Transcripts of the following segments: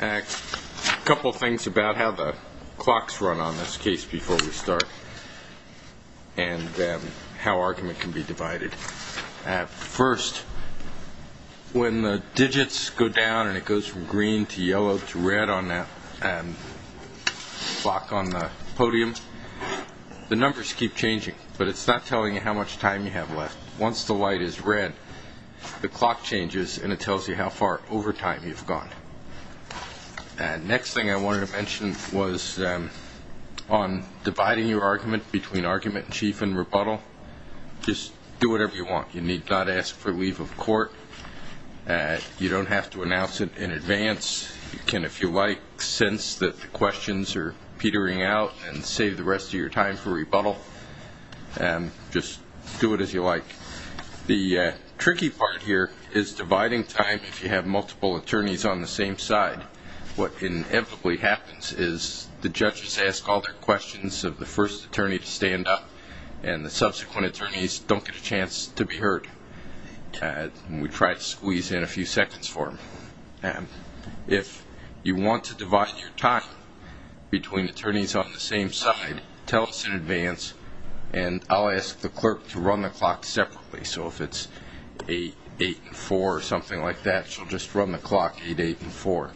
A couple of things about how the clocks run on this case before we start and how argument can be divided. First, when the digits go down and it goes from green to yellow to red on the clock on the podium, the numbers keep changing, but it's not telling you how much time you have left. Once the light is red, the clock changes and it tells you how far over time you've gone. The next thing I wanted to mention was on dividing your argument between argument in chief and rebuttal. Just do whatever you want. You need not ask for leave of court. You don't have to announce it in advance. You can, if you like, sense that the questions are petering out and save the rest of your time for rebuttal. Just do it as you like. The tricky part here is dividing time if you have multiple attorneys on the same side. What inevitably happens is the judges ask all their questions of the first attorney to stand up and the subsequent attorneys don't get a chance to be heard. We try to squeeze in a few seconds for them. If you want to divide your time between attorneys on the clock separately, so if it's 8-8-4 or something like that, she'll just run the clock 8-8-4.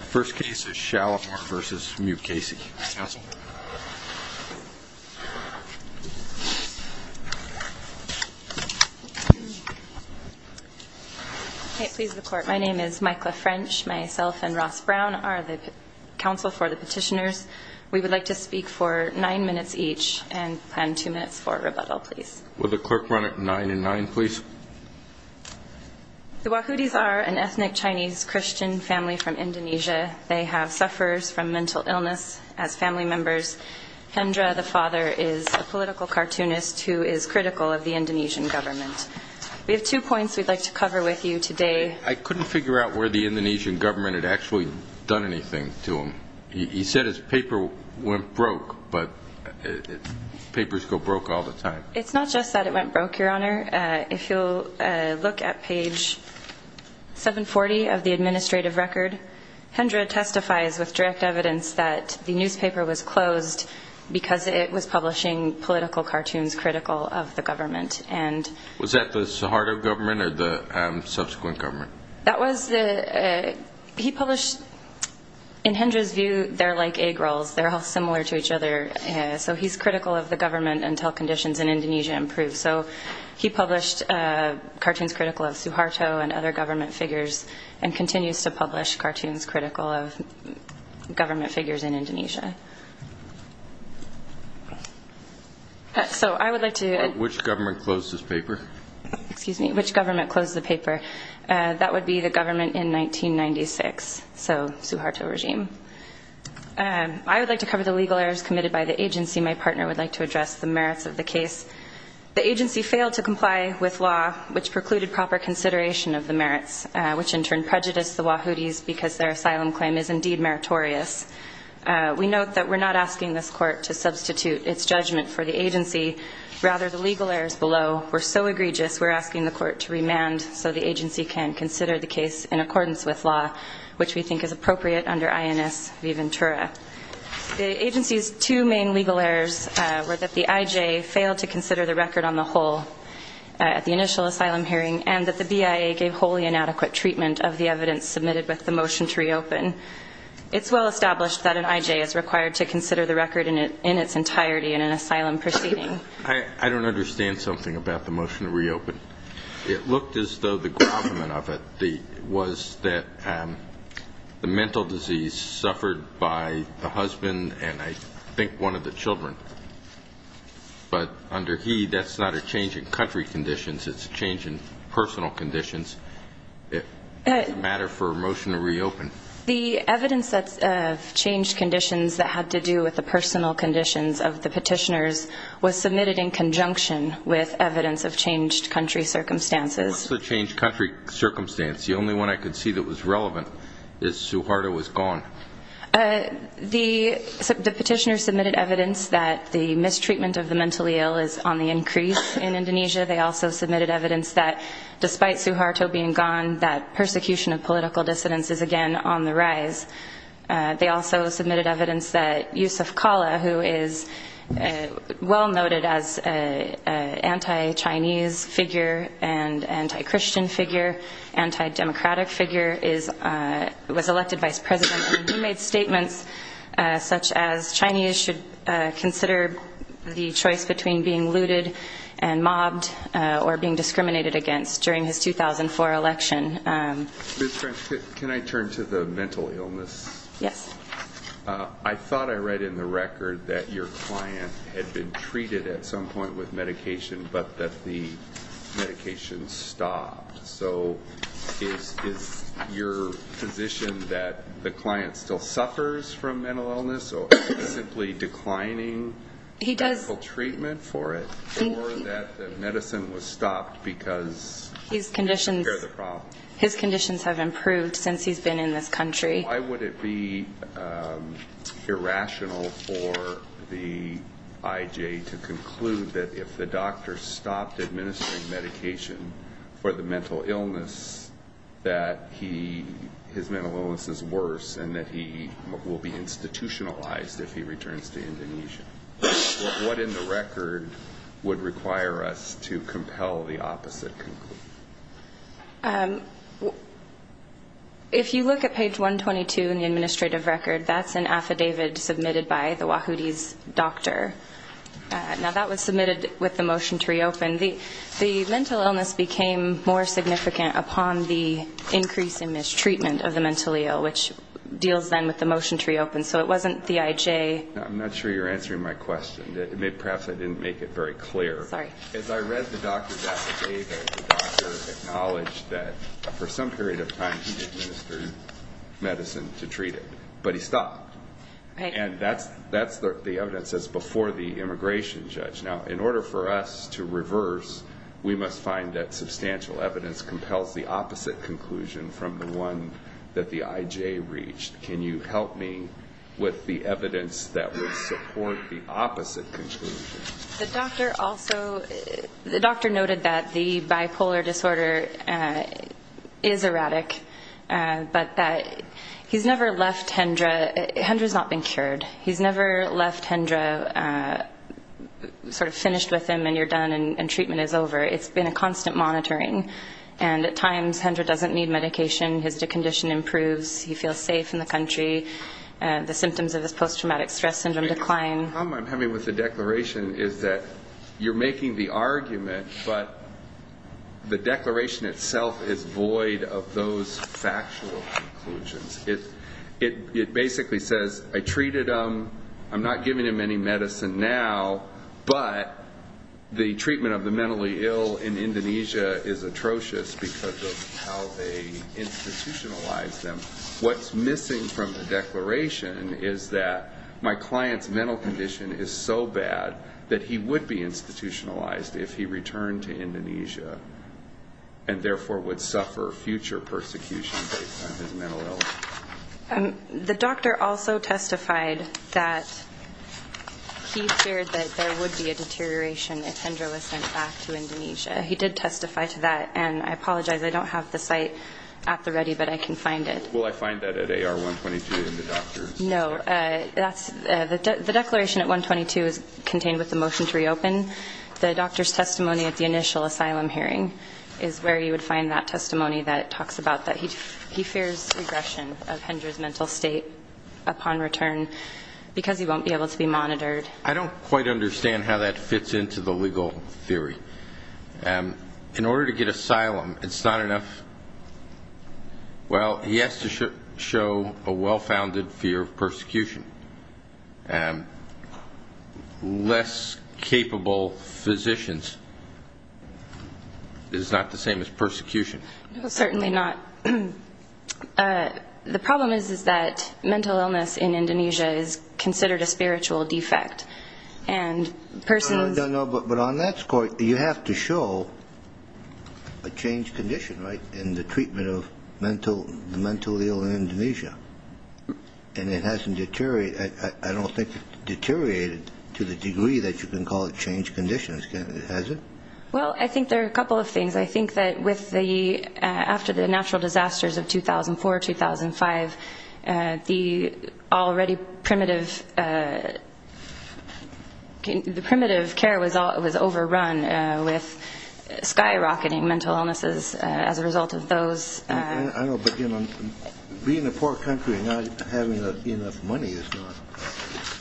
First case is Shalimar v. Mukasey. Please report. My name is Mykla French. Myself and Ross Brown are the counsel for the petitioners. We would like to speak for nine minutes each and plan two minutes for rebuttal, please. Will the clerk run it 9-9, please? The Wahudis are an ethnic Chinese Christian family from Indonesia. They have sufferers from mental illness as family members. Hendra, the father, is a political cartoonist who is critical of the Indonesian government. We have two points we'd like to cover with you today. I couldn't figure out where the Indonesian government had actually done anything to him. He said his paper went broke, but papers go broke all the time. It's not just that it went broke, Your Honor. If you'll look at page 740 of the administrative record, Hendra testifies with direct evidence that the newspaper was closed because it was publishing political cartoons critical of the government. Was that the Suharto government or the subsequent government? That was the... He published... In Hendra's view, they're like egg rolls. They're all similar to each other. So he's critical of the government until conditions in Indonesia improve. So he published cartoons critical of Suharto and other government figures and continues to publish cartoons critical of government figures in Indonesia. So I would like to... Which government closed his paper? Excuse me. Which government closed the paper? That would be the government in 1996. So Suharto regime. I would like to cover the legal errors committed by the agency. My partner would like to address the merits of the case. The agency failed to comply with law, which precluded proper consideration of the merits, which in turn prejudiced the Wahoodies because their asylum claim is indeed meritorious. We note that we're not asking this court to substitute its judgment for the agency. Rather, the legal errors below were so egregious, we're asking the court to remand so the agency can consider the case in accordance with law, which we think is appropriate under INS Viventura. The agency's two main legal errors were that the IJ failed to consider the record on the whole at the initial asylum hearing and that the BIA gave wholly inadequate treatment of the evidence submitted with the motion to reopen. It's well established that an IJ is required to consider the record in its entirety in an asylum proceeding. I don't understand something about the motion to reopen. It looked as though the grommet of it was that the mental disease suffered by the husband and I think one of the children, but under he, that's not a change in country conditions, it's a change in personal conditions. It doesn't matter for a motion to reopen. The evidence that changed conditions that had to do with the personal conditions of the petitioners was submitted in conjunction with evidence of changed country circumstances. What's the changed country circumstance? The only one I could see that was relevant is Suharto was gone. The petitioners submitted evidence that the mistreatment of the mentally ill is on the increase in Indonesia. They also submitted evidence that despite Suharto being gone, that persecution of political dissidents is again on the rise. They also submitted evidence that Yusuf Kala, who is well noted as an anti-Chinese figure and anti-Christian figure, anti-democratic figure, was elected vice president and he made statements such as Chinese should consider the choice between being looted and mobbed or being discriminated against during his 2004 election. Ms. French, can I turn to the mental illness? Yes. I thought I read in the record that your client had been treated at some point with medication, but that the medication stopped. So is your position that the client still suffers from mental illness or is he simply declining medical treatment for it? Or that the medicine was stopped because... His conditions have improved since he's been in this country. Why would it be irrational for the IJ to conclude that if the doctor stopped administering medication for the mental illness, that his mental illness is worse and that he will be institutionalized if he returns to Indonesia? What in the record would require us to compel the opposite conclusion? If you look at page 122 in the administrative record, that's an affidavit submitted by the Wahoodis doctor. Now that was submitted with the motion to reopen. The mental illness became more significant upon the increase in mistreatment of the mentally ill, which deals then with the motion to reopen. So it wasn't the IJ... I'm not sure you're answering my question. Perhaps I didn't make it very clear. Sorry. As I read the doctor's affidavit, the doctor acknowledged that for some period of time he administered medicine to treat it, but he stopped. Right. And that's the evidence that's before the immigration judge. Now in order for us to reverse, we must find that substantial evidence compels the opposite conclusion from the one that the IJ reached. Can you help me with the evidence that would support the opposite conclusion? The doctor also noted that the bipolar disorder is erratic, but that he's never left Hendra. Hendra's not been cured. He's never left Hendra sort of finished with him and you're done and treatment is over. It's been a constant monitoring. And at times Hendra doesn't need medication, his condition improves, he feels safe in the country, the symptoms of his post-traumatic stress syndrome decline. The problem I'm having with the declaration is that you're making the argument, but the declaration itself is void of those factual conclusions. It basically says, I treated him, I'm not giving him any medicine now, but the treatment of the mentally ill in Indonesia is atrocious because of how they institutionalize them. What's missing from the declaration is that my client's mental condition is so bad that he would be institutionalized if he returned to Indonesia and therefore would suffer future persecution based on his mental illness. The doctor also testified that he feared that there would be a deterioration if Hendra was sent back to Indonesia. He did testify to that. And I apologize, I don't have the site at the ready, but I can find it. Will I find that at AR-122 in the doctor's? No. The declaration at 122 is contained with the motion to reopen. The doctor's testimony at the initial asylum hearing is where you would find that testimony that talks about that he fears regression of Hendra's mental state upon return because he won't be able to be monitored. I don't quite understand how that fits into the legal theory. In order to get asylum, it's not enough. Well, he has to show a well-founded fear of persecution. Less capable physicians is not the same as persecution. Certainly not. The problem is that mental illness in Indonesia is considered a spiritual defect. And persons... But on that score, you have to show a changed condition, right, in the treatment of the mentally ill in Indonesia. And it hasn't deteriorated... I don't think it's deteriorated to the degree that you can call it changed conditions. Has it? Well, I think there are a couple of things. I think that after the natural disasters of 2004, 2005, the already primitive... The primitive care was overrun with skyrocketing mental illnesses as a result of those. I know, but being in a poor country and not having enough money is not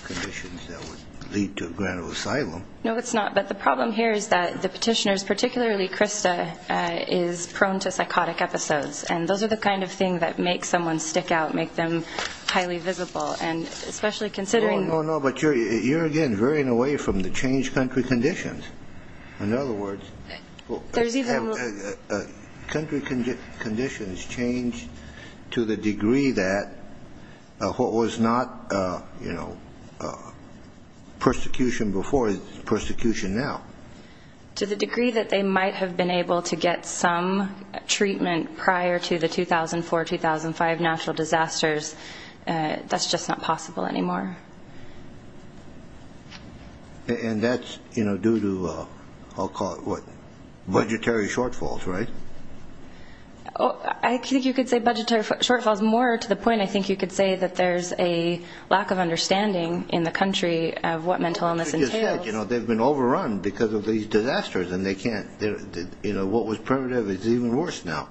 conditions that would lead to a grant of asylum. No, it's not. But the problem here is that the petitioners, particularly Krista, is prone to psychotic episodes. And those are the kind of things that make someone stick out, make them highly visible, and especially considering... No, no, no, but you're, again, veering away from the changed country conditions. In other words, country conditions changed to the degree that what was not persecution before is persecution now. To the degree that they might have been able to get some treatment prior to the 2004, 2005 natural disasters. That's just not possible anymore. And that's due to, I'll call it, what, budgetary shortfalls, right? I think you could say budgetary shortfalls. More to the point, I think you could say that there's a lack of understanding in the country of what mental illness entails. You know, they've been overrun because of these disasters, and they can't... What was primitive is even worse now.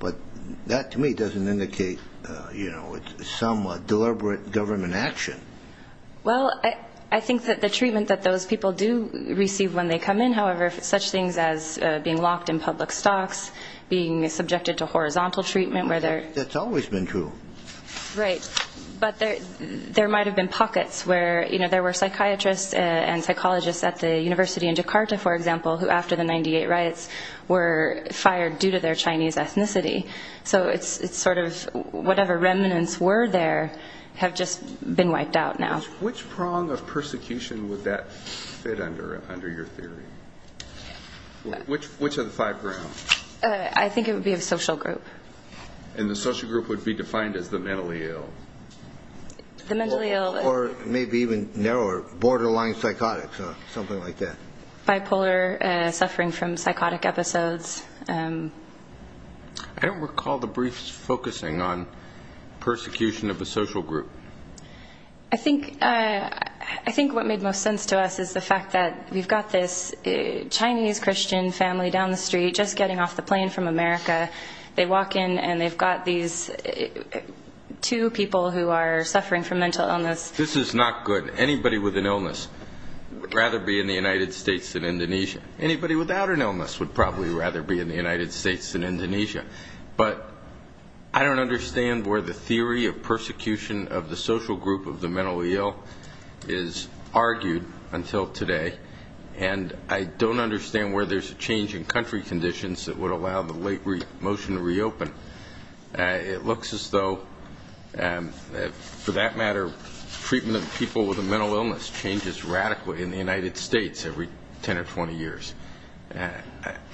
But that, to me, doesn't indicate some deliberate government action. Well, I think that the treatment that those people do receive when they come in, however, such things as being locked in public stocks, being subjected to horizontal treatment where they're... That's always been true. Right. But there might have been pockets where there were psychiatrists and psychologists at the University of Jakarta, for example, who, after the 98 riots, were fired due to their Chinese ethnicity. So it's sort of whatever remnants were there have just been wiped out now. Which prong of persecution would that fit under, under your theory? Which of the five grounds? I think it would be a social group. And the social group would be defined as the mentally ill. Or maybe even narrower, borderline psychotic, something like that. Bipolar, suffering from psychotic episodes. I don't recall the briefs focusing on persecution of a social group. I think what made most sense to us is the fact that we've got this Chinese Christian family down the street, just getting off the plane from America. They walk in and they've got these two people who are suffering from mental illness. This is not good. Anybody with an illness would rather be in the United States than Indonesia. Anybody without an illness would probably rather be in the United States than Indonesia. But I don't understand where the theory of persecution of the social group of the mentally ill is argued until today. And I don't understand where there's a change in country conditions that would allow the late motion to reopen. It looks as though, for that matter, treatment of people with a mental illness changes radically in the United States every 10 or 20 years.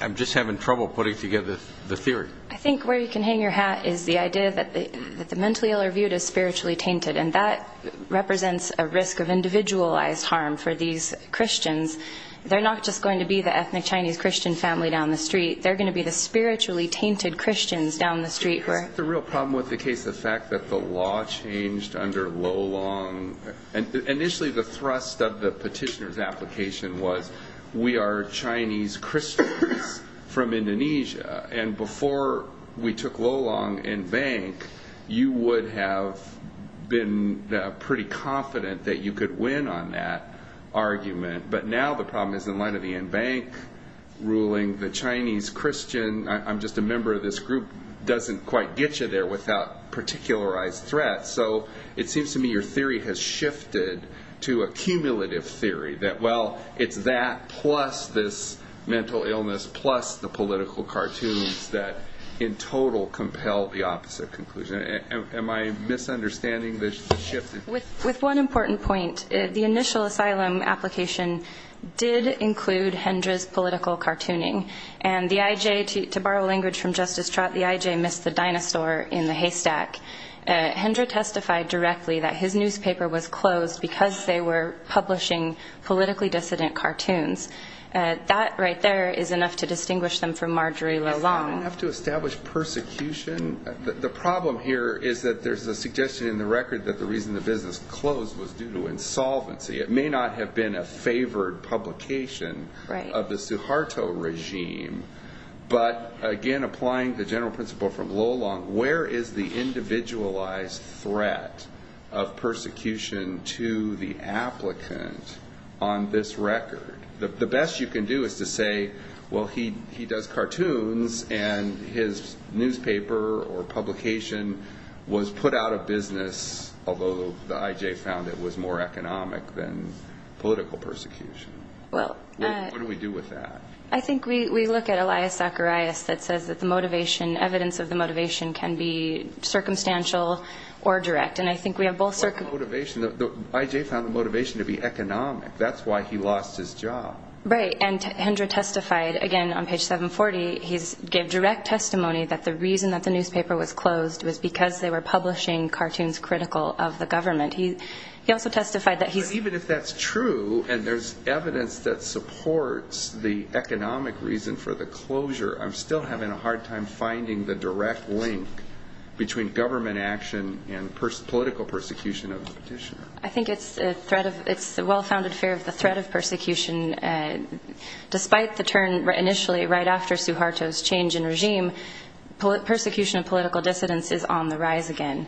I'm just having trouble putting together the theory. I think where you can hang your hat is the idea that the mentally ill are viewed as spiritually tainted. And that represents a risk of individualized harm for these Christians. They're not just going to be the ethnic Chinese Christian family down the street. They're going to be the spiritually tainted Christians down the street. Is that the real problem with the case, the fact that the law changed under Lolong? Initially, the thrust of the petitioner's application was, we are Chinese Christians from Indonesia. And before we took Lolong in bank, you would have been pretty confident that you could win on that argument. But now the problem is, in light of the in-bank ruling, the Chinese Christian, I'm just a member of this group, doesn't quite get you there without particularized threats. So it seems to me your theory has shifted to a cumulative theory. That, well, it's that plus this mental illness plus the political cartoons that in total compel the opposite conclusion. Am I misunderstanding the shift? With one important point, the initial asylum application did include Hendra's political cartooning. And the IJ, to borrow language from Justice Trott, the IJ missed the dinosaur in the haystack. Hendra testified directly that his newspaper was closed because they were publishing politically dissident cartoons. That right there is enough to distinguish them from Marjorie Lolong. Enough to establish persecution? The problem here is that there's a suggestion in the record that the reason the business closed was due to insolvency. It may not have been a favored publication of the Suharto regime. But, again, applying the general principle from Lolong, where is the individualized threat of persecution to the applicant on this record? The best you can do is to say, well, he does cartoons, and his newspaper or publication was put out of business, although the IJ found it was more economic than political persecution. What do we do with that? I think we look at Elias Zacharias that says that the motivation, evidence of the motivation, can be circumstantial or direct. And I think we have both circumstances. What motivation? The IJ found the motivation to be economic. That's why he lost his job. Right. And Hendra testified, again, on page 740, he gave direct testimony that the reason that the newspaper was closed was because they were publishing cartoons critical of the government. But even if that's true, and there's evidence that supports the economic reason for the closure, I'm still having a hard time finding the direct link between government action and political persecution of the petitioner. I think it's the well-founded fear of the threat of persecution. Despite the turn initially right after Suharto's change in regime, persecution of political dissidents is on the rise again.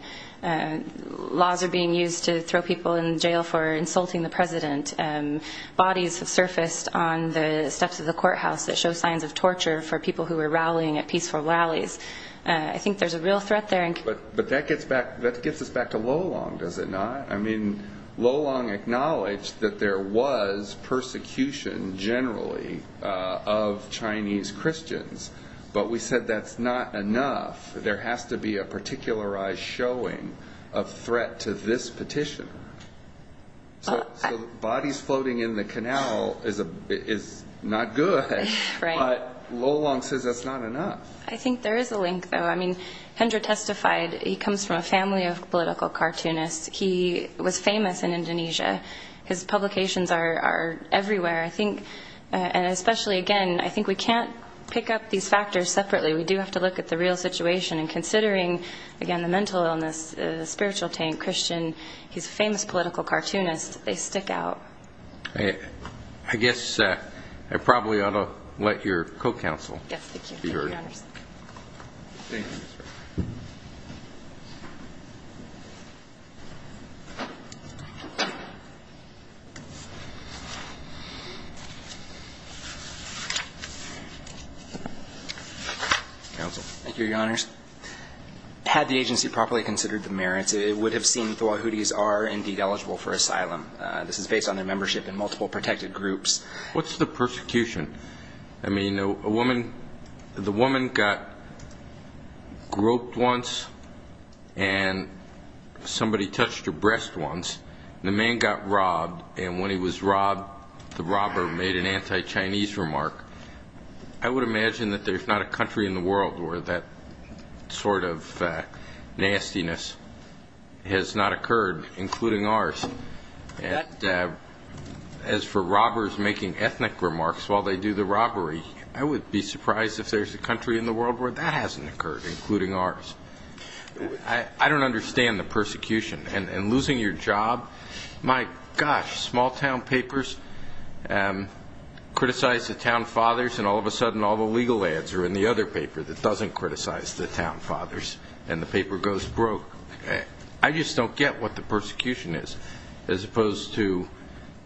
Laws are being used to throw people in jail for insulting the president. Bodies have surfaced on the steps of the courthouse that show signs of torture for people who were rallying at peaceful rallies. I think there's a real threat there. But that gets us back to Lolong, does it not? I mean, Lolong acknowledged that there was persecution generally of Chinese Christians, but we said that's not enough. There has to be a particularized showing of threat to this petitioner. So bodies floating in the canal is not good, but Lolong says that's not enough. There is a link, though. I mean, Hendra testified he comes from a family of political cartoonists. He was famous in Indonesia. His publications are everywhere. And especially, again, I think we can't pick up these factors separately. We do have to look at the real situation, and considering, again, the mental illness, the spiritual tank, Christian, he's a famous political cartoonist. I guess I probably ought to let your co-counsel be heard. Thank you, Your Honors. Had the agency properly considered the merits, it would have seen the Wahoodies are indeed eligible for asylum. This is based on their membership in multiple protected groups. What's the persecution? I mean, the woman got groped once. And somebody touched her breast once, and the man got robbed, and when he was robbed, the robber made an anti-Chinese remark. I would imagine that there's not a country in the world where that sort of nastiness has not occurred, including ours. As for robbers making ethnic remarks while they do the robbery, I would be surprised if there's a country in the world where that hasn't occurred, including ours. I don't understand the persecution, and losing your job. My gosh, small-town papers criticize the town fathers, and all of a sudden all the legal ads are in the other paper that doesn't criticize the town fathers, and the paper goes broke. I just don't get what the persecution is, as opposed to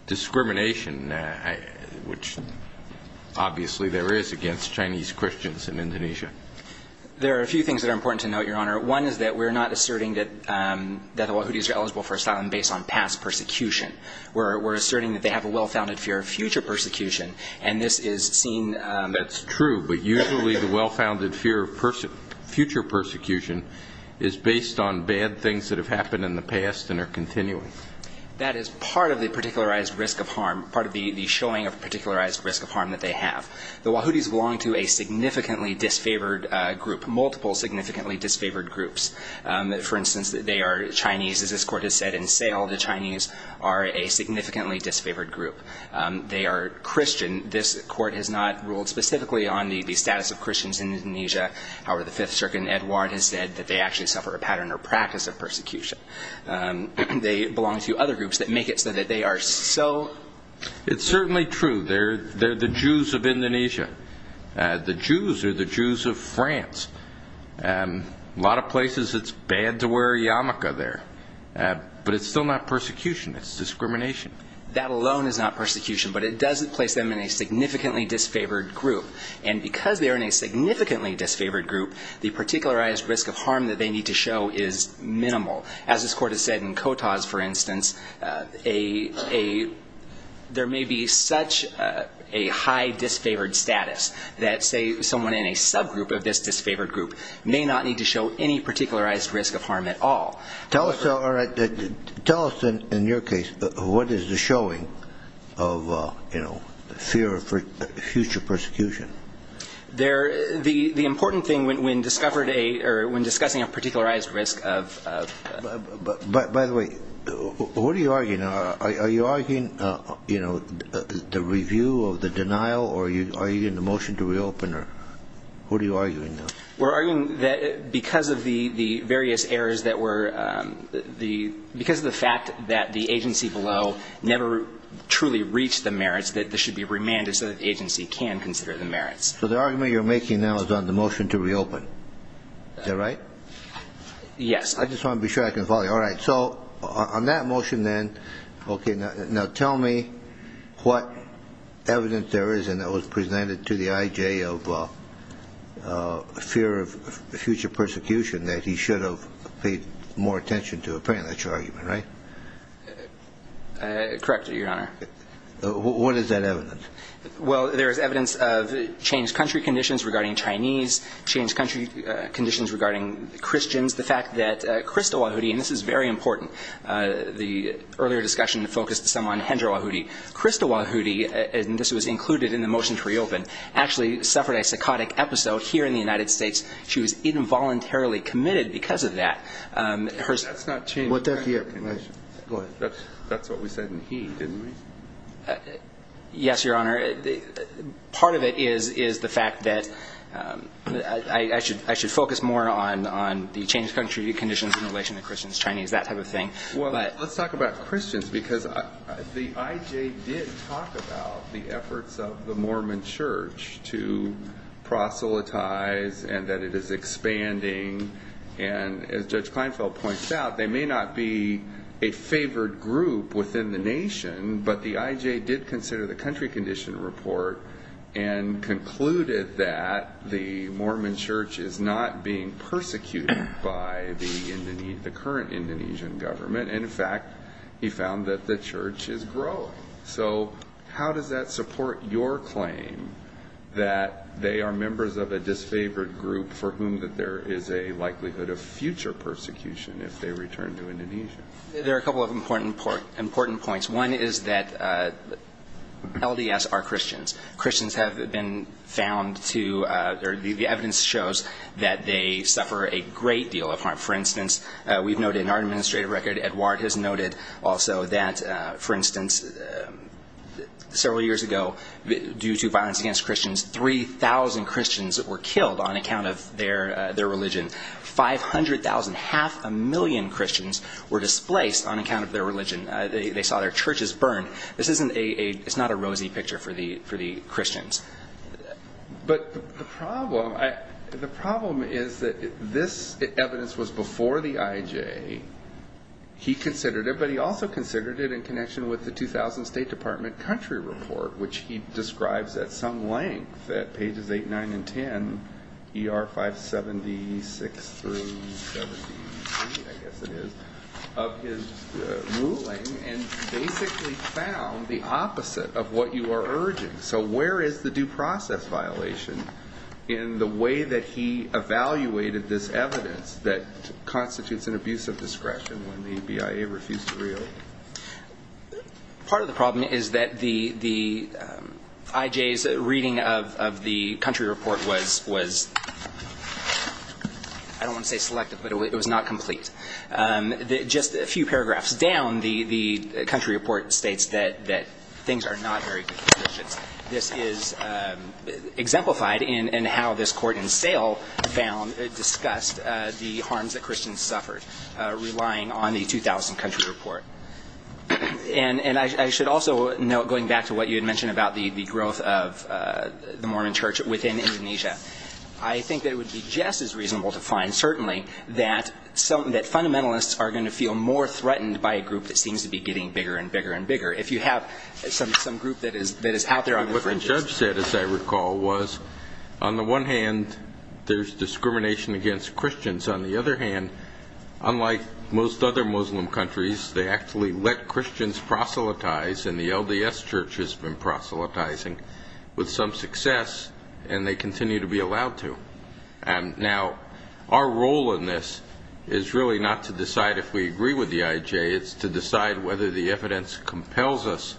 discrimination, which obviously there is against Chinese Christians in Indonesia. There are a few things that are important to note, Your Honor. One is that we're not asserting that the Wahoodies are eligible for asylum based on past persecution. We're asserting that they have a well-founded fear of future persecution, and this is seen as... That's true, but usually the well-founded fear of future persecution is based on bad things that have happened in the past and are continuing. That is part of the particularized risk of harm, part of the showing of particularized risk of harm that they have. The Wahoodies belong to a significantly disfavored group, multiple significantly disfavored groups. For instance, they are Chinese. As this Court has said in Sale, the Chinese are a significantly disfavored group. They are Christian. This Court has not ruled specifically on the status of Christians in Indonesia. However, the Fifth Circuit in Edward has said that they actually suffer a pattern or practice of persecution. They belong to other groups that make it so that they are so... They are the Jews of Indonesia, the Jews are the Jews of France. A lot of places it's bad to wear a yarmulke there, but it's still not persecution, it's discrimination. That alone is not persecution, but it doesn't place them in a significantly disfavored group. And because they are in a significantly disfavored group, the particularized risk of harm that they need to show is minimal. As this Court has said in Kotas, for instance, there may be such a high disfavored group that, say, someone in a subgroup of this disfavored group may not need to show any particularized risk of harm at all. Tell us, in your case, what is the showing of fear of future persecution? The important thing when discussing a particularized risk of... By the way, what are you arguing? Are you arguing the review of the denial? Or are you in the motion to reopen? Who are you arguing now? We're arguing that because of the various errors that were... Because of the fact that the agency below never truly reached the merits, that this should be remanded so that the agency can consider the merits. So the argument you're making now is on the motion to reopen. Is that right? Yes. I just want to be sure I can follow you. All right. So on that motion, then, okay, now tell me what evidence there is and that was presented to the I.J. of fear of future persecution that he should have paid more attention to, apparently. That's your argument, right? Correctly, Your Honor. What is that evidence? Well, there is evidence of changed country conditions regarding Chinese, changed country conditions regarding Christians, the fact that Krista Wahoudi, and this is very important, the earlier discussion focused some on Hendra Wahoudi. Krista Wahoudi, and this was included in the motion to reopen, actually suffered a psychotic episode here in the United States. She was involuntarily committed because of that. That's what we said in he, didn't we? Yes, Your Honor. Part of it is the fact that I should focus more on the changed country conditions in relation to Christians, Chinese, that type of thing. Well, let's talk about Christians because the I.J. did talk about the efforts of the Mormon Church to proselytize and that it is expanding, and as Judge Kleinfeld points out, they may not be a favored group within the nation, but the I.J. did consider the country condition report and concluded that the Mormon Church is not being persecuted by the current Indonesian government. In fact, he found that the church is growing. So how does that support your claim that they are members of a disfavored group for whom there is a likelihood of future persecution if they return to Indonesia? There are a couple of important points. One is that LDS are Christians. Christians have been found to, the evidence shows that they suffer a great deal of harm. For instance, we've noted in our administrative record, Edward has noted also that, for instance, several years ago, due to violence against Christians, 3,000 Christians were killed on account of their religion. 500,000, half a million Christians were displaced on account of their religion. They saw their churches burn. This is not a rosy picture for the Christians. But the problem is that this evidence was before the I.J. He considered it, but he also considered it in connection with the 2000 State Department country report, which he describes at some length at pages 8, 9, and 10, E.R. 576 through 73, I guess it is, of his ruling and basically found the opposite of what you are urging. So where is the due process violation in the way that he evaluated this evidence that constitutes an abuse of power? Is there discretion when the BIA refused to review it? Part of the problem is that the I.J.'s reading of the country report was, I don't want to say selective, but it was not complete. Just a few paragraphs down, the country report states that things are not very good for Christians. This is exemplified in how this court in Sale discussed the harms that Christians suffered. And I should also note, going back to what you had mentioned about the growth of the Mormon church within Indonesia, I think that it would be just as reasonable to find, certainly, that fundamentalists are going to feel more threatened by a group that seems to be getting bigger and bigger and bigger. If you have some group that is out there on the fringes. What the judge said, as I recall, was, on the one hand, there is discrimination against Christians. On the other hand, unlike most other Muslim countries, they actually let Christians proselytize, and the LDS church has been proselytizing with some success, and they continue to be allowed to. Now, our role in this is really not to decide if we agree with the I.J. It's to decide whether the evidence compels us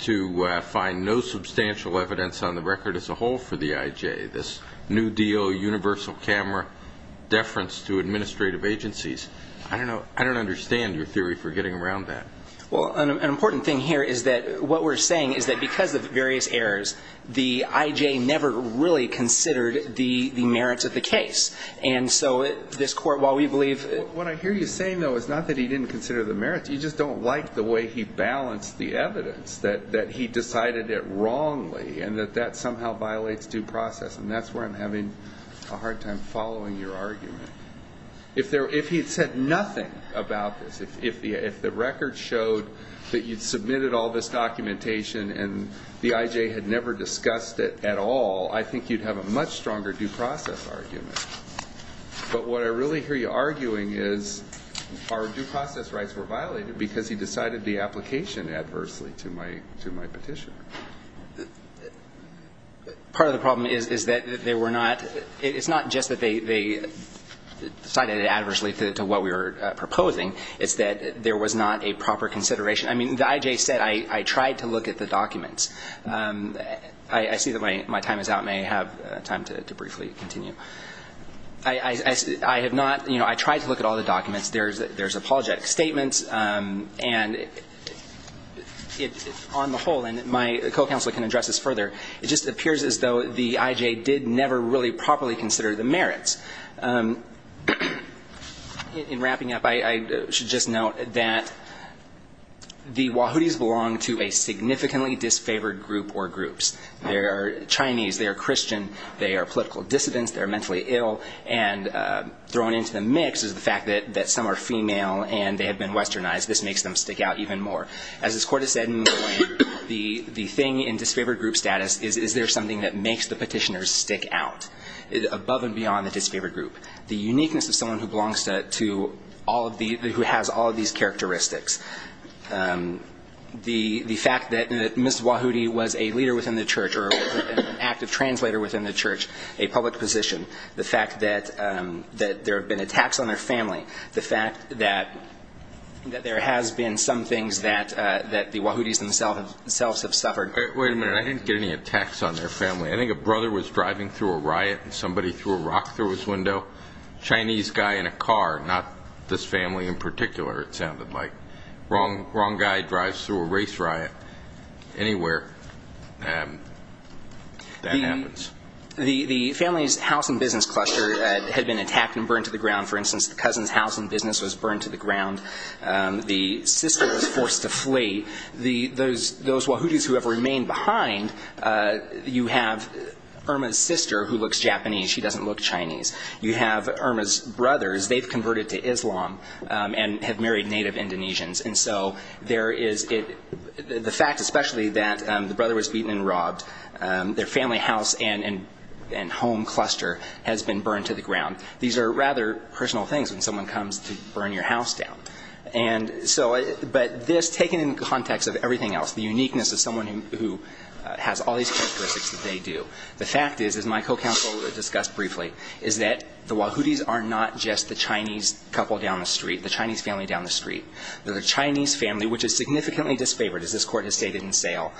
to find no substantial evidence on the record as a whole for the I.J. This New Deal, universal camera, deference to administrative agencies. I don't understand your theory for getting around that. Well, an important thing here is that what we're saying is that because of various errors, the I.J. never really considered the merits of the case. And so this court, while we believe... What I hear you saying, though, is not that he didn't consider the merits. You just don't like the way he balanced the evidence, that he decided it wrongly, and that that somehow violates due process. And that's where I'm having a hard time following your argument. If he had said nothing about this, if the record showed that you'd submitted all this documentation and the I.J. had never discussed it at all, I think you'd have a much stronger due process argument. But what I really hear you arguing is our due process rights were violated because he decided the application adversely to my petition. Part of the problem is that they were not... It's not just that they decided it adversely to what we were proposing. It's that there was not a proper consideration. I mean, the I.J. said, I tried to look at the documents. I see that my time is out. May I have time to briefly continue? I have not, you know, I tried to look at all the documents. There's apologetic statements. And on the whole, and my co-counsel can address this further, it just appears as though the I.J. did never really properly consider the merits. In wrapping up, I should just note that the Wahoodies belong to a significantly disfavored group or groups. They are Chinese, they are Christian, they are political dissidents, they are mentally ill, and thrown into the mix is the fact that some are female and they have been westernized. This makes them stick out even more. As this Court has said, the thing in disfavored group status is, is there something that makes the petitioners stick out above and beyond the disfavored group? The uniqueness of someone who belongs to all of these, who has all of these characteristics. The fact that Ms. Wahoody was a leader within the church or an active translator within the church, a public position, the fact that there have been attacks on their family, the fact that there has been some things that the Wahoodies themselves have suffered. Wait a minute, I didn't get any attacks on their family. I think a brother was driving through a riot and somebody threw a rock through his window. Chinese guy in a car, not this family in particular, it sounded like. Wrong guy drives through a race riot. Anywhere that happens. The family's house and business cluster had been attacked and burned to the ground. For instance, the cousin's house and business was burned to the ground. The sister was forced to flee. Those Wahoodies who have remained behind, you have Irma's sister who looks Japanese, she doesn't look Chinese. You have Irma's brothers, they've converted to Islam and have married native Indonesians. The fact especially that the brother was beaten and robbed, their family house and home cluster has been burned to the ground. These are rather personal things when someone comes to burn your house down. But this, taken in context of everything else, the uniqueness of someone who has all these characteristics that they do. The fact is, as my co-counsel discussed briefly, is that the Wahoodies are not just the Chinese couple down the street, the Chinese family down the street. They're the Chinese family, which is significantly disfavored, as this Court has stated in sale.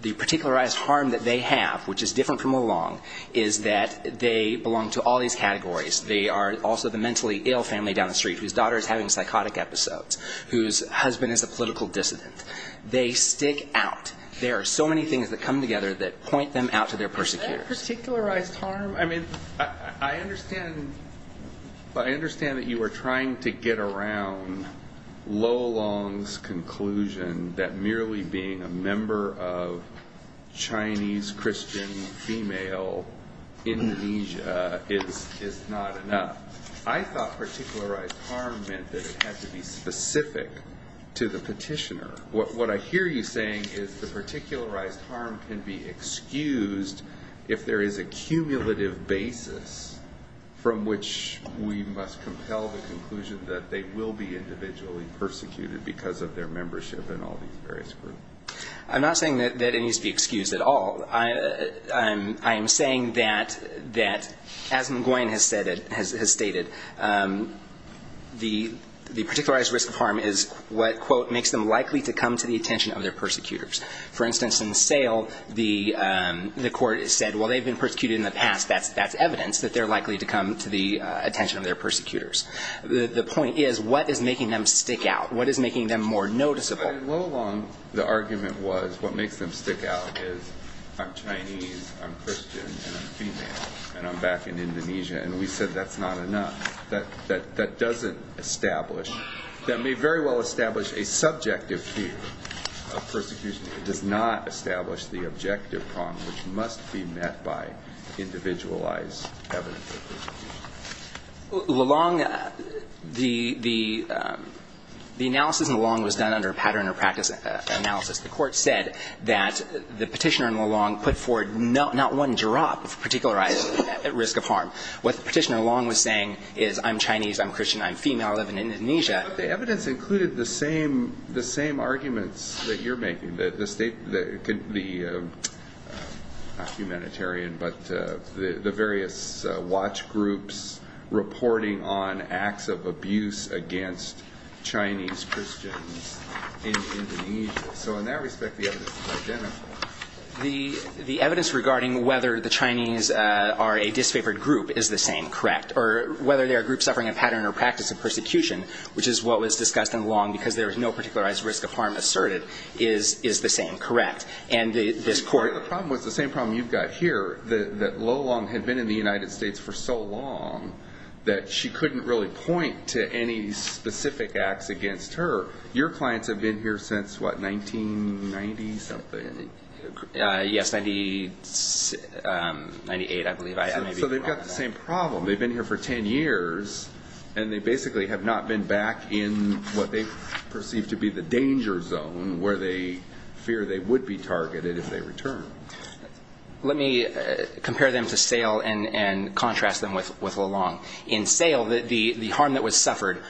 The particularized harm that they have, which is different from Mulong, is that they belong to all these categories. They are also the mentally ill family down the street whose daughter is having psychotic episodes, whose husband is a political dissident. They stick out. There are so many things that come together that point them out to their persecutors. That particularized harm, I mean, I understand that you are trying to get around Mulong's conclusion that merely being a member of Chinese, Christian, female, Indonesia is not enough. I thought particularized harm meant that it had to be specific to the petitioner. What I hear you saying is the particularized harm can be excused if there is a cumulative basis from which we must compel the conclusion that they will be individually persecuted because of their membership in all these various groups. I'm not saying that it needs to be excused at all. I am saying that, as Nguyen has stated, the particularized risk of harm is what, quote, makes them likely to come to the attention of their persecutors. For instance, in the sale, the Court said, well, they've been persecuted in the past. That's evidence that they're likely to come to the attention of their persecutors. The point is, what is making them stick out? What is making them more noticeable? In Mulong, the argument was, what makes them stick out is, I'm Chinese, I'm Christian, and I'm female, and I'm back in Indonesia. And we said that's not enough. That doesn't establish, that may very well establish a subjective view of persecution. It does not establish the objective prong which must be met by individualized evidence of persecution. Mulong, the analysis in Mulong was done under a pattern or practice analysis. The Court said that the petitioner in Mulong put forward not one drop of particularized risk of harm. What the petitioner in Mulong was saying is, I'm Chinese, I'm Christian, I'm female, I live in Indonesia. But the evidence included the same arguments that you're making, the state, the, not humanitarian, but the various watch groups, reporting on acts of abuse against Chinese Christians in Indonesia. So in that respect, the evidence is identical. The evidence regarding whether the Chinese are a disfavored group is the same, correct? Or whether they are a group suffering a pattern or practice of persecution, which is what was discussed in Mulong because there was no particularized risk of harm asserted, is the same, correct? And this Court... The problem was the same problem you've got here, that Mulong had been in the United States for so long that she couldn't really point to any specific acts against her. Your clients have been here since, what, 1990-something? Yes, 98, I believe. So they've got the same problem. They've been here for 10 years, and they basically have not been back in what they perceive to be the return. Let me compare them to Sale and contrast them with Mulong. In Sale, the harm that was suffered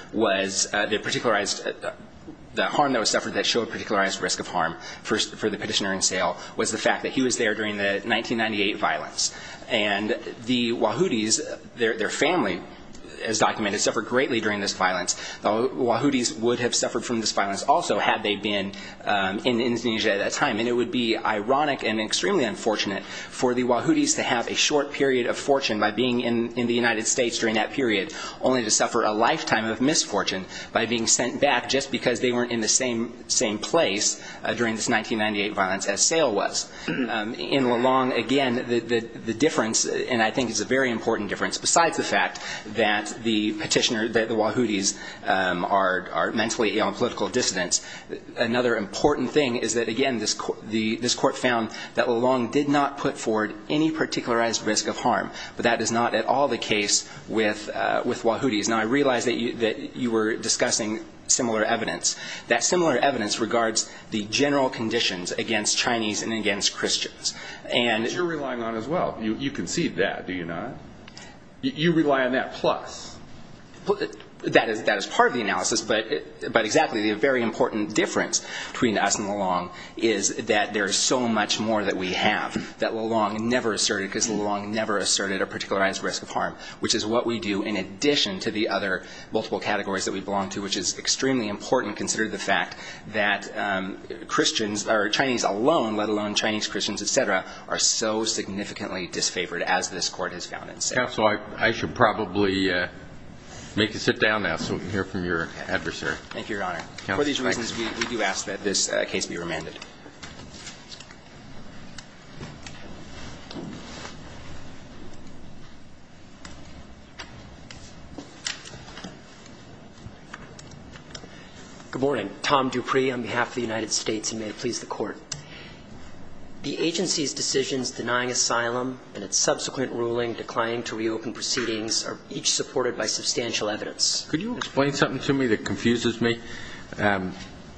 that showed particularized risk of harm for the petitioner in Sale was the fact that he was there during the 1998 violence. And the Wahoodies, their family, as documented, suffered greatly during this violence. The Wahoodies would have suffered from this violence also had they been in Indonesia at that time. And it would be ironic and extremely unfortunate for the Wahoodies to have a short period of fortune by being in the United States during that period, only to suffer a lifetime of misfortune by being sent back just because they weren't in the same place during this 1998 violence as Sale was. In Mulong, again, the difference, and I think it's a very important difference besides the fact that the petitioner, that the Wahoodies are mentally ill and political dissidents, another important thing is that, again, this court found that Mulong did not put forward any particularized risk of harm. But that is not at all the case with Wahoodies. Now, I realize that you were discussing similar evidence. That similar evidence regards the general conditions against Chinese and against Christians. But you're relying on as well. You concede that, do you not? You rely on that plus. That is part of the analysis. But exactly, the very important difference between us and Mulong is that there is so much more that we have that Mulong never asserted, because Mulong never asserted a particularized risk of harm, which is what we do in addition to the other multiple categories that we belong to, which is extremely important, considering the fact that Chinese alone, let alone Chinese-Christians et cetera, are so significantly disfavored as this court has found it. Counsel, I should probably make you sit down now so we can hear from your adversary. Thank you, Your Honor. For these reasons, we do ask that this case be remanded. Good morning. Tom Dupree on behalf of the United States, and may it please the Court. The agency's decisions denying asylum and its subsequent ruling declining to reopen proceedings are each supported by substantial evidence. Could you explain something to me that confuses me?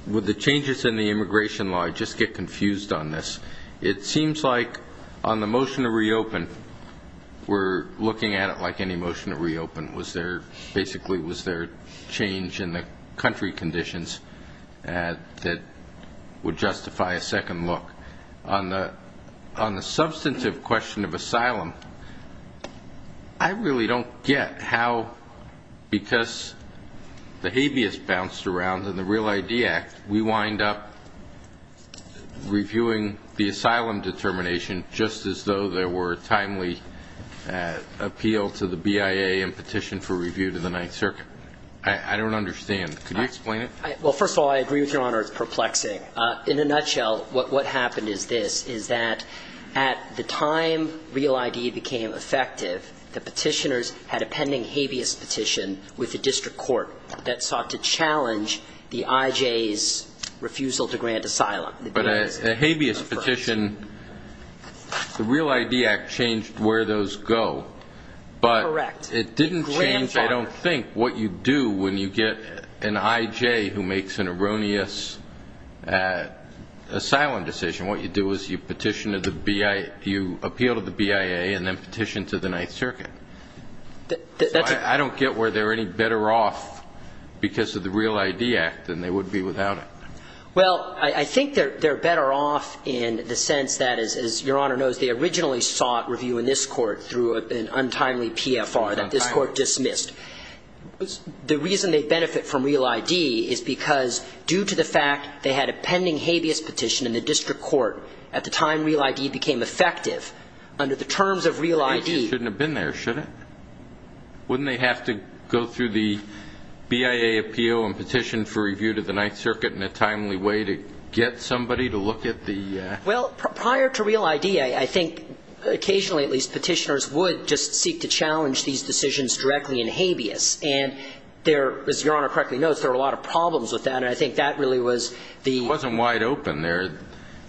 With the changes in the immigration law, I just get confused on this. It seems like on the motion to reopen, we're looking at it like any motion to reopen. Was there, basically, was there a change in the country conditions that would justify a second look? On the substantive question of asylum, I really don't get how, because the habeas bounced around in the Real ID Act, we wind up reviewing the asylum determination just as though there were a timely appeal to the BIA and petition for review to the Ninth Circuit. I don't understand. Could you explain it? Well, first of all, I agree with Your Honor. It's perplexing. In a nutshell, what happened is this, is that at the time Real ID became effective, the petitioners had a pending habeas petition with the district court that sought to challenge the IJ's refusal to grant asylum. But a habeas petition, the Real ID Act changed where those go, but it didn't change, I don't think, what you do when you get an IJ who makes an erroneous asylum decision. What you do is you petition to the BIA, you appeal to the BIA and then petition to the Ninth Circuit. So I don't get where they're any better off because of the Real ID Act than they would be without it. Well, I think they're better off in the sense that, as Your Honor knows, they originally sought review in this court through an untimely PFR that this court dismissed. The reason they benefit from Real ID is because, due to the fact they had a pending habeas petition in the district court at the time Real ID became effective, under the terms of Real ID, they had a pending habeas petition that was not reviewed. So I don't think the BIA shouldn't have been there, should it? Wouldn't they have to go through the BIA appeal and petition for review to the Ninth Circuit in a timely way to get somebody to look at the act? Well, prior to Real ID, I think, occasionally at least, petitioners would just seek to challenge these decisions directly in habeas. And there, as Your Honor correctly knows, there were a lot of problems with that, and I think that really was the... It wasn't quite open there,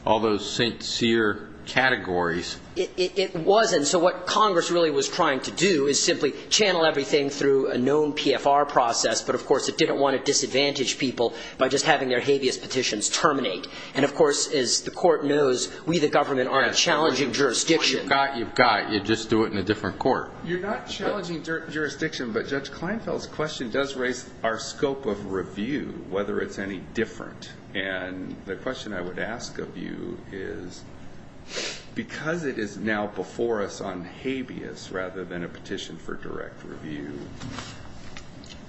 all those sincere categories. It wasn't. So what Congress really was trying to do is simply channel everything through a known PFR process, but of course it didn't want to disadvantage people by just having their habeas petitions terminate. And of course, as the court knows, we the government are a challenging jurisdiction. You've got it. You've got it. You just do it in a different court. You're not challenging jurisdiction, but Judge Kleinfeld's question does raise our scope of review, whether it's any different. And the question I would ask of you is, because it is now before us on habeas rather than a petition for direct review,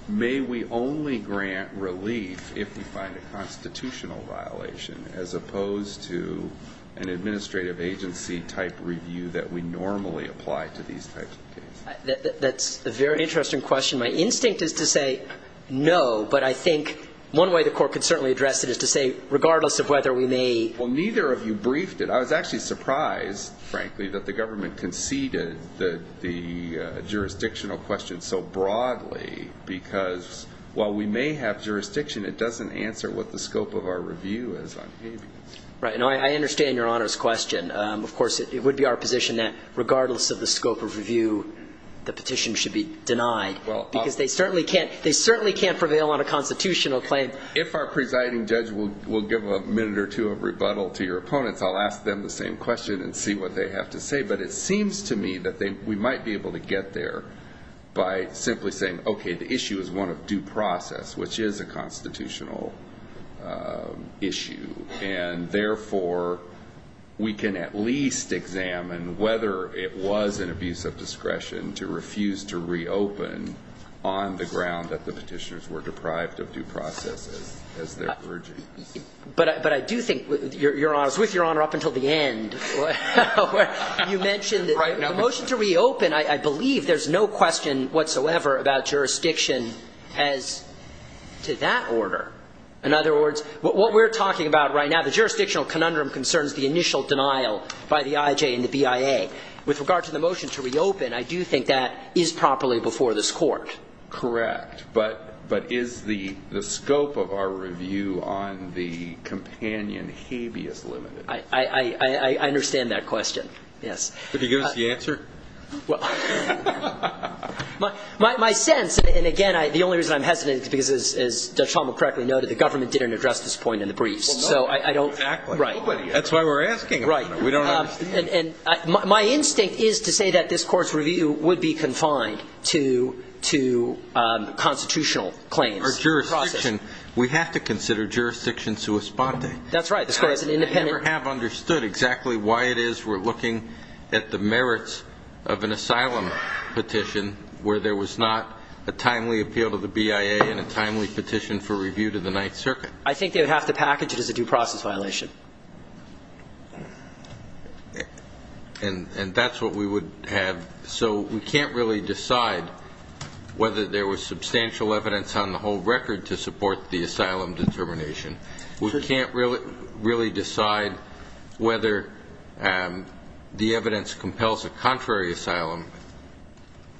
may we only grant relief if we find a constitutional violation as opposed to an administrative agency type review that we normally apply to these types of cases? That's a very interesting question. My instinct is to say no, but I think one way the court could certainly address it is to say, regardless of whether we may... Well, neither of you briefed it. I was actually surprised, frankly, that the government conceded the jurisdictional question so broadly, because while we may have jurisdiction, it doesn't answer what the scope of our review is on habeas. Right. I understand Your Honor's question. Of course, it would be our position that regardless of the scope of review, the petition should be denied, because they certainly can't prevail on a constitutional claim. If our presiding judge will give a minute or two of rebuttal to your opponents, I'll ask them the same question and see what they have to say. But it seems to me that we might be able to get there by simply saying, okay, the issue is one of due process, which is a constitutional issue. And therefore, we can at least examine whether it was an abuse of discretion to refuse to reopen on the ground that the petitioners were deprived of due process, as they're urging. But I do think, Your Honor, I was with Your Honor up until the end, where you mentioned the motion to reopen. I believe there's no question whatsoever about jurisdiction as to that order. In other words, what we're talking about right now is a matter of jurisdiction. The jurisdictional conundrum concerns the initial denial by the I.J. and the B.I.A. With regard to the motion to reopen, I do think that is properly before this Court. Correct. But is the scope of our review on the companion habeas limited? I understand that question, yes. Could you give us the answer? Well, my sense, and again, the only reason I'm hesitant is because, as Judge Tomlin correctly noted, the government didn't address this point in the briefs. Exactly. That's why we're asking. My instinct is to say that this Court's review would be confined to constitutional claims. Or jurisdiction. We have to consider jurisdiction sua sponte. That's right. I never have understood exactly why it is we're looking at the merits of an asylum petition where there was not a timely appeal to the B.I.A. and a timely petition for review to the Ninth Circuit. I think they would have to package it as a due process violation. And that's what we would have. So we can't really decide whether there was substantial evidence on the whole record to support the asylum determination. We can't really decide whether the evidence compels a contrary asylum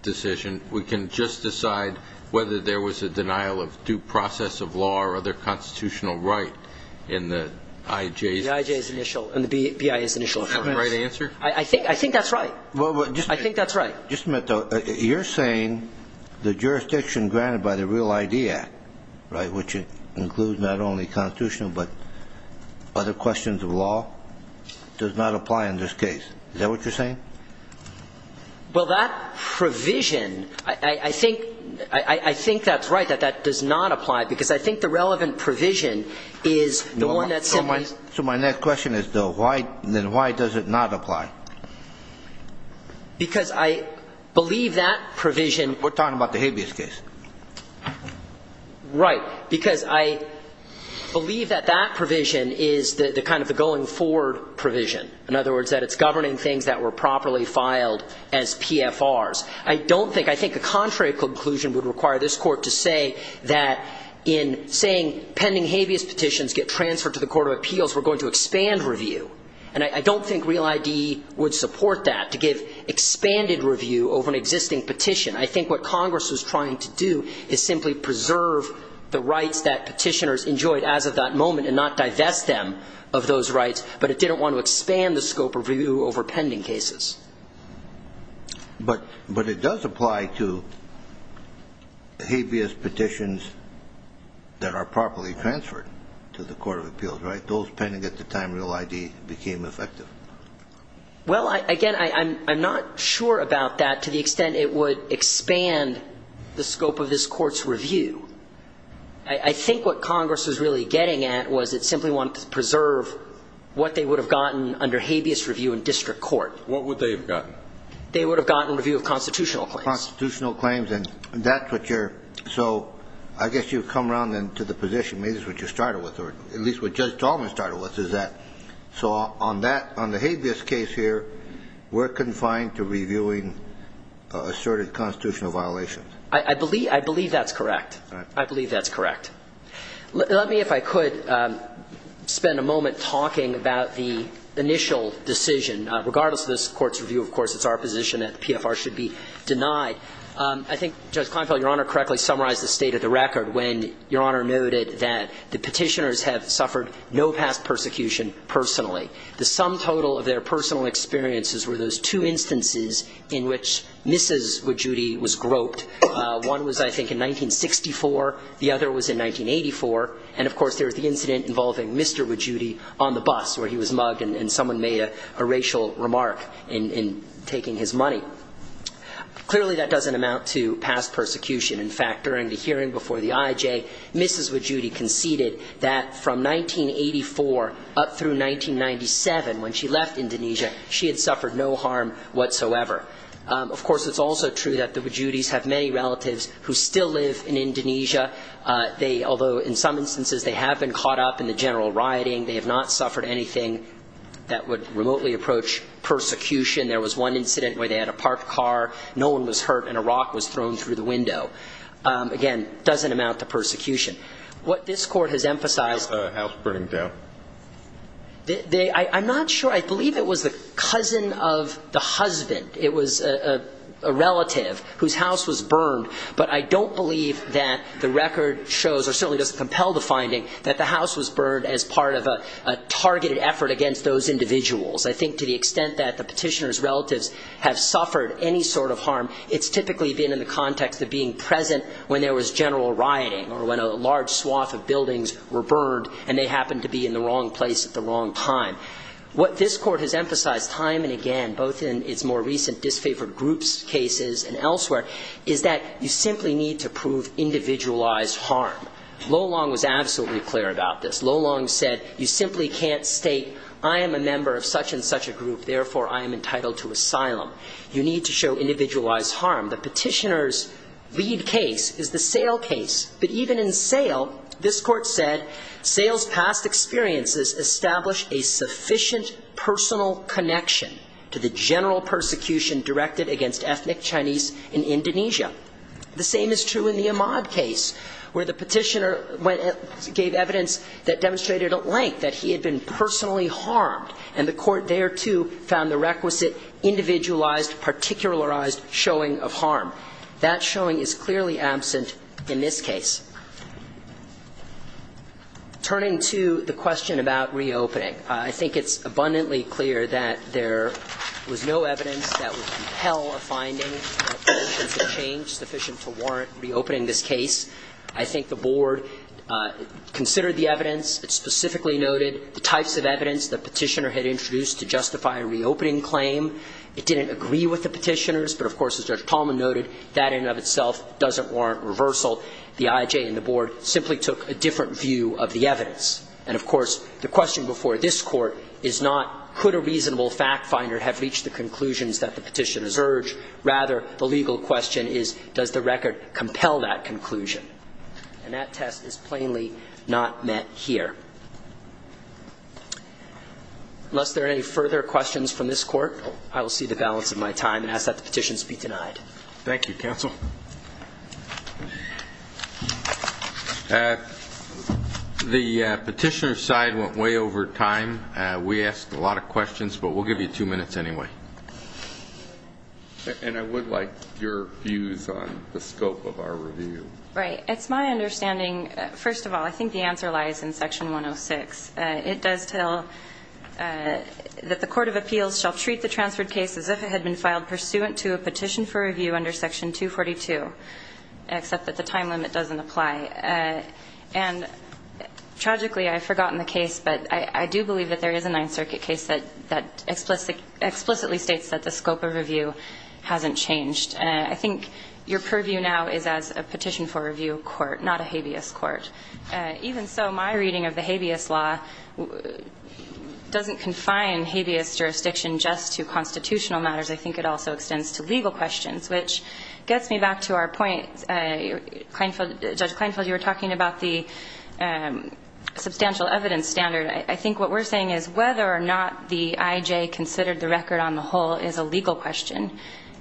decision. We can just decide whether there was a denial of due process of law or other constitutional right in the I.J. The I.J. is initial, and the B.I.A. is initial. Is that the right answer? I think that's right. You're saying the jurisdiction granted by the Real I.D. Act, which includes not only constitutional but other questions of law, does not apply in this case. Is that what you're saying? Well, that provision, I think that's right, that that does not apply. Because I think the relevant provision is the one that simply... So my next question is, then why does it not apply? Because I believe that provision... We're talking about the habeas case. Right. Because I believe that that provision is kind of the going forward provision. In other words, that it's governing things that were properly filed as PFRs. I think a contrary conclusion would require this Court to say that in saying pending habeas petitions get transferred to the Court of Appeals, we're going to expand review. And I don't think Real I.D. would support that, to give expanded review over an existing petition. I think what Congress was trying to do is simply preserve the rights that petitioners enjoyed as of that moment and not divest them of those rights. But it didn't want to expand the scope of review over pending cases. But it does apply to habeas petitions that are properly transferred to the Court of Appeals, right? Those pending at the time Real I.D. became effective. Well, again, I'm not sure about that to the extent it would expand the scope of this Court's review. I think what Congress was really getting at was it simply wanted to preserve what they would have gotten under habeas review in district court. What would they have gotten? They would have gotten review of constitutional claims. Constitutional claims, and that's what you're, so I guess you've come around then to the position, maybe that's what you started with, or at least what Judge Tallman started with, is that, so on that, on the habeas case here, we're confined to reviewing asserted constitutional violations. I believe that's correct. Let me, if I could, spend a moment talking about the initial decision. Regardless of this Court's review, of course, it's our position that PFR should be denied. I think Judge Kleinfeld, Your Honor, correctly summarized the state of the record when Your Honor noted that the petitioners have suffered no past persecution personally. The sum total of their personal experiences were those two instances in which Mrs. Wajudi was groped, and the petitioners have suffered no past persecution personally. One was, I think, in 1964, the other was in 1984, and, of course, there was the incident involving Mr. Wajudi on the bus where he was mugged and someone made a racial remark in taking his money. Clearly, that doesn't amount to past persecution. In fact, during the hearing before the IJ, Mrs. Wajudi conceded that from 1984 up through 1997, when she left Indonesia, she had suffered no harm whatsoever. Of course, it's also true that the Wajudis have many relatives who still live in Indonesia. Although in some instances they have been caught up in the general rioting, they have not suffered anything that would remotely approach persecution. There was one incident where they had a parked car, no one was hurt, and a rock was thrown through the window. What this Court has emphasized... I'm not sure. I believe it was the cousin of the husband. It was a relative whose house was burned, but I don't believe that the record shows, or certainly doesn't compel the finding, that the house was burned as part of a targeted effort against those individuals. I think to the extent that the petitioners' relatives have suffered any sort of harm, it's typically been in the context of being present when there was general rioting, or when a large number of people were present. When a large swath of buildings were burned, and they happened to be in the wrong place at the wrong time. What this Court has emphasized time and again, both in its more recent disfavored groups cases and elsewhere, is that you simply need to prove individualized harm. Lo Long was absolutely clear about this. Lo Long said, you simply can't state, I am a member of such and such a group, therefore I am entitled to asylum. You need to show individualized harm. In the case of Sale, this Court said, Sale's past experiences establish a sufficient personal connection to the general persecution directed against ethnic Chinese in Indonesia. The same is true in the Imad case, where the petitioner gave evidence that demonstrated at length that he had been personally harmed, and the Court thereto found the requisite individualized, particularized showing of harm. That showing is clearly absent in this case. Turning to the question about reopening, I think it's abundantly clear that there was no evidence that would compel a finding sufficient to change, sufficient to warrant reopening this case. I think the Board considered the evidence. It specifically noted the types of evidence the petitioner had introduced to justify a reopening claim. It didn't agree with the petitioners, but of course, as Judge Tallman noted, that in and of itself doesn't warrant reversal. The IJ and the Board simply took a different view of the evidence. And of course, the question before this Court is not, could a reasonable fact finder have reached the conclusions that the petitioners urge? Rather, the legal question is, does the record compel that conclusion? And that test is plainly not met here. Unless there are any further questions from this Court, I will see the balance of my time and ask that the petitions be denied. Thank you, Counsel. The petitioner's side went way over time. We asked a lot of questions, but we'll give you two minutes anyway. And I would like your views on the scope of our review. Right. It's my understanding, first of all, I think the answer lies in Section 106. It does tell that the Court of Appeals shall treat the transferred case as if it had been filed pursuant to a petition for review under Section 242. Except that the time limit doesn't apply. And tragically, I've forgotten the case, but I do believe that there is a Ninth Circuit case that explicitly states that the scope of review hasn't changed. I think your purview now is as a petition for review court, not a habeas court. Even so, my reading of the habeas law doesn't confine habeas jurisdiction just to constitutional matters. I think it also extends to legal questions, which gets me back to our point. Judge Kleinfeld, you were talking about the substantial evidence standard. I think what we're saying is whether or not the I.J. considered the record on the whole is a legal question.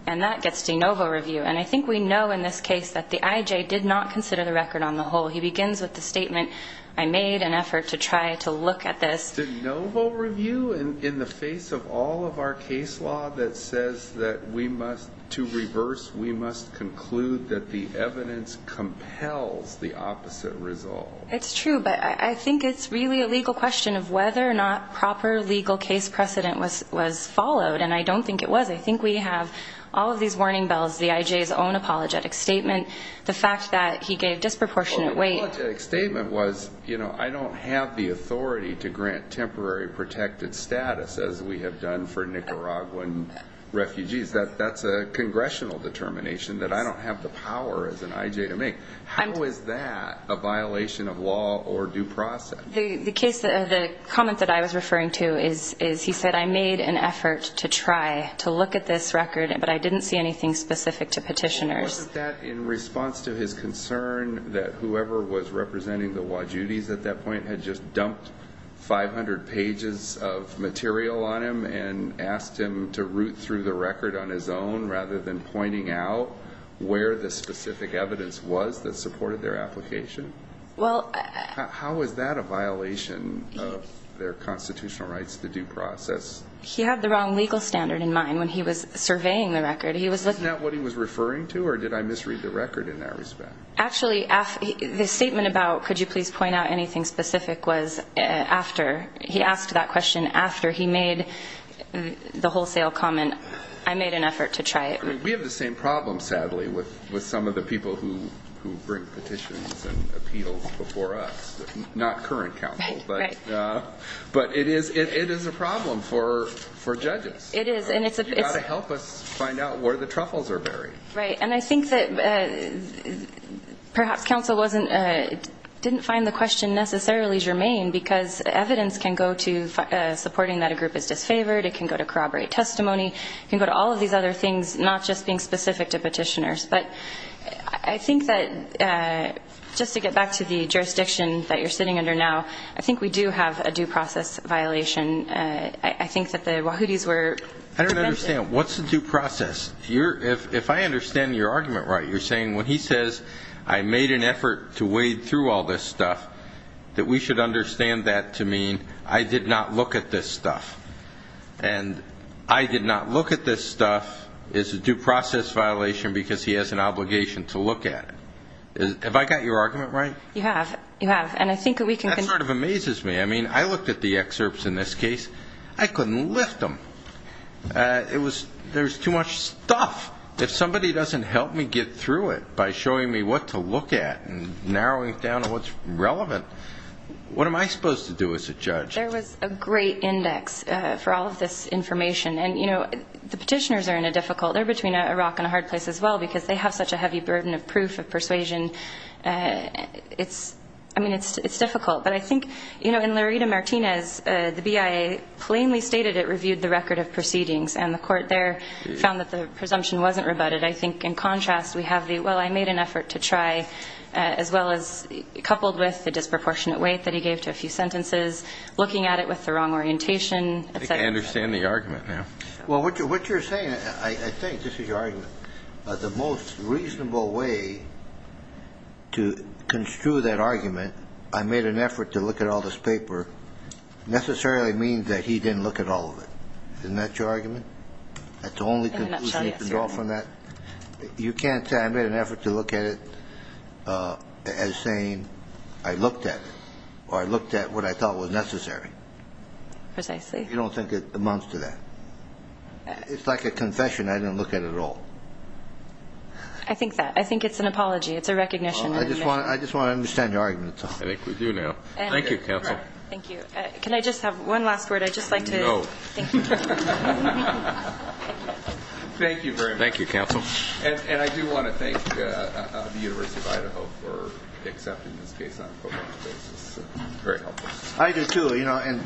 And that gets de novo review. And I think we know in this case that the I.J. did not consider the record on the whole. He begins with the statement, I made an effort to try to look at this. De novo review in the face of all of our case law that says that we must, to reverse, we must conclude that the evidence compels the opposite resolve. It's true, but I think it's really a legal question of whether or not proper legal case precedent was followed. And I don't think it was. I think we have all of these warning bells, the I.J.'s own apologetic statement, the fact that he gave disproportionate weight. Well, the apologetic statement was, you know, I don't have the authority to grant temporary protected status as we have done for Nicaraguan refugees. That's a congressional determination that I don't have the power as an I.J. to make. How is that a violation of law or due process? The case, the comment that I was referring to is he said I made an effort to try to look at this record, but I didn't see anything specific to petitioners. Wasn't that in response to his concern that whoever was representing the Wajudis at that point had just dumped 500 pages of material on him and asked him to root through the record on his own rather than pointing out where the specific evidence was that supported their application? How is that a violation of their constitutional rights to due process? He had the wrong legal standard in mind when he was surveying the record. Isn't that what he was referring to, or did I misread the record in that respect? Actually, the statement about could you please point out anything specific was after. He asked that question after he made the wholesale comment I made an effort to try it. We have the same problem, sadly, with some of the people who bring petitions and appeals before us. Not current counsel, but it is a problem for judges. You've got to help us find out where the truffles are buried. Right, and I think that perhaps counsel didn't find the question necessarily germane because evidence can go to supporting that a group is disfavored, it can go to corroborate testimony, it can go to all of these other things, not just being specific to petitioners. But I think that just to get back to the jurisdiction that you're sitting under now, I think we do have a due process violation. I think that the Wajudis were... I don't understand. What's the due process? If I understand your argument right, you're saying when he says I made an effort to wade through all this stuff, that we should understand that to mean I did not look at this stuff. And I did not look at this stuff is a due process violation because he has an obligation to look at it. Have I got your argument right? That sort of amazes me. I mean, I looked at the excerpts in this case. I couldn't lift them. There's too much stuff. If somebody doesn't help me get through it by showing me what to look at and narrowing it down to what's relevant, what am I supposed to do as a judge? There was a great index for all of this information, and the petitioners are in a difficult... They're between a rock and a hard place as well because they have such a heavy burden of proof, of persuasion. I mean, it's difficult. But I think in Laredo Martinez, the BIA plainly stated it reviewed the record of proceedings, and the court there found that the presumption wasn't rebutted. I think in contrast, we have the, well, I made an effort to try, as well as coupled with the disproportionate weight that he gave to a few sentences, looking at it with the wrong orientation, et cetera. I understand the argument now. The most reasonable way to construe that argument, I made an effort to look at all this paper, necessarily means that he didn't look at all of it. Isn't that your argument? You can't say I made an effort to look at it as saying I looked at it, or I looked at what I thought was necessary. You don't think it amounts to that. It's like a confession I didn't look at at all. I think it's an apology. I just want to understand your argument. I think we do now. Thank you, counsel. I do want to thank the University of Idaho for accepting this case on a pro bono basis. I do, too.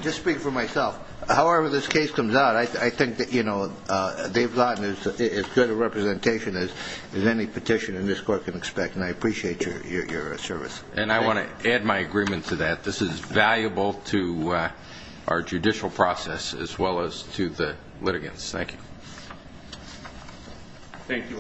Just speaking for myself, however this case comes out, I think they've gotten as good a representation as any petition in this court can expect, and I appreciate your service. And I want to add my agreement to that. This is valuable to our judicial process as well as to the litigants. Thank you.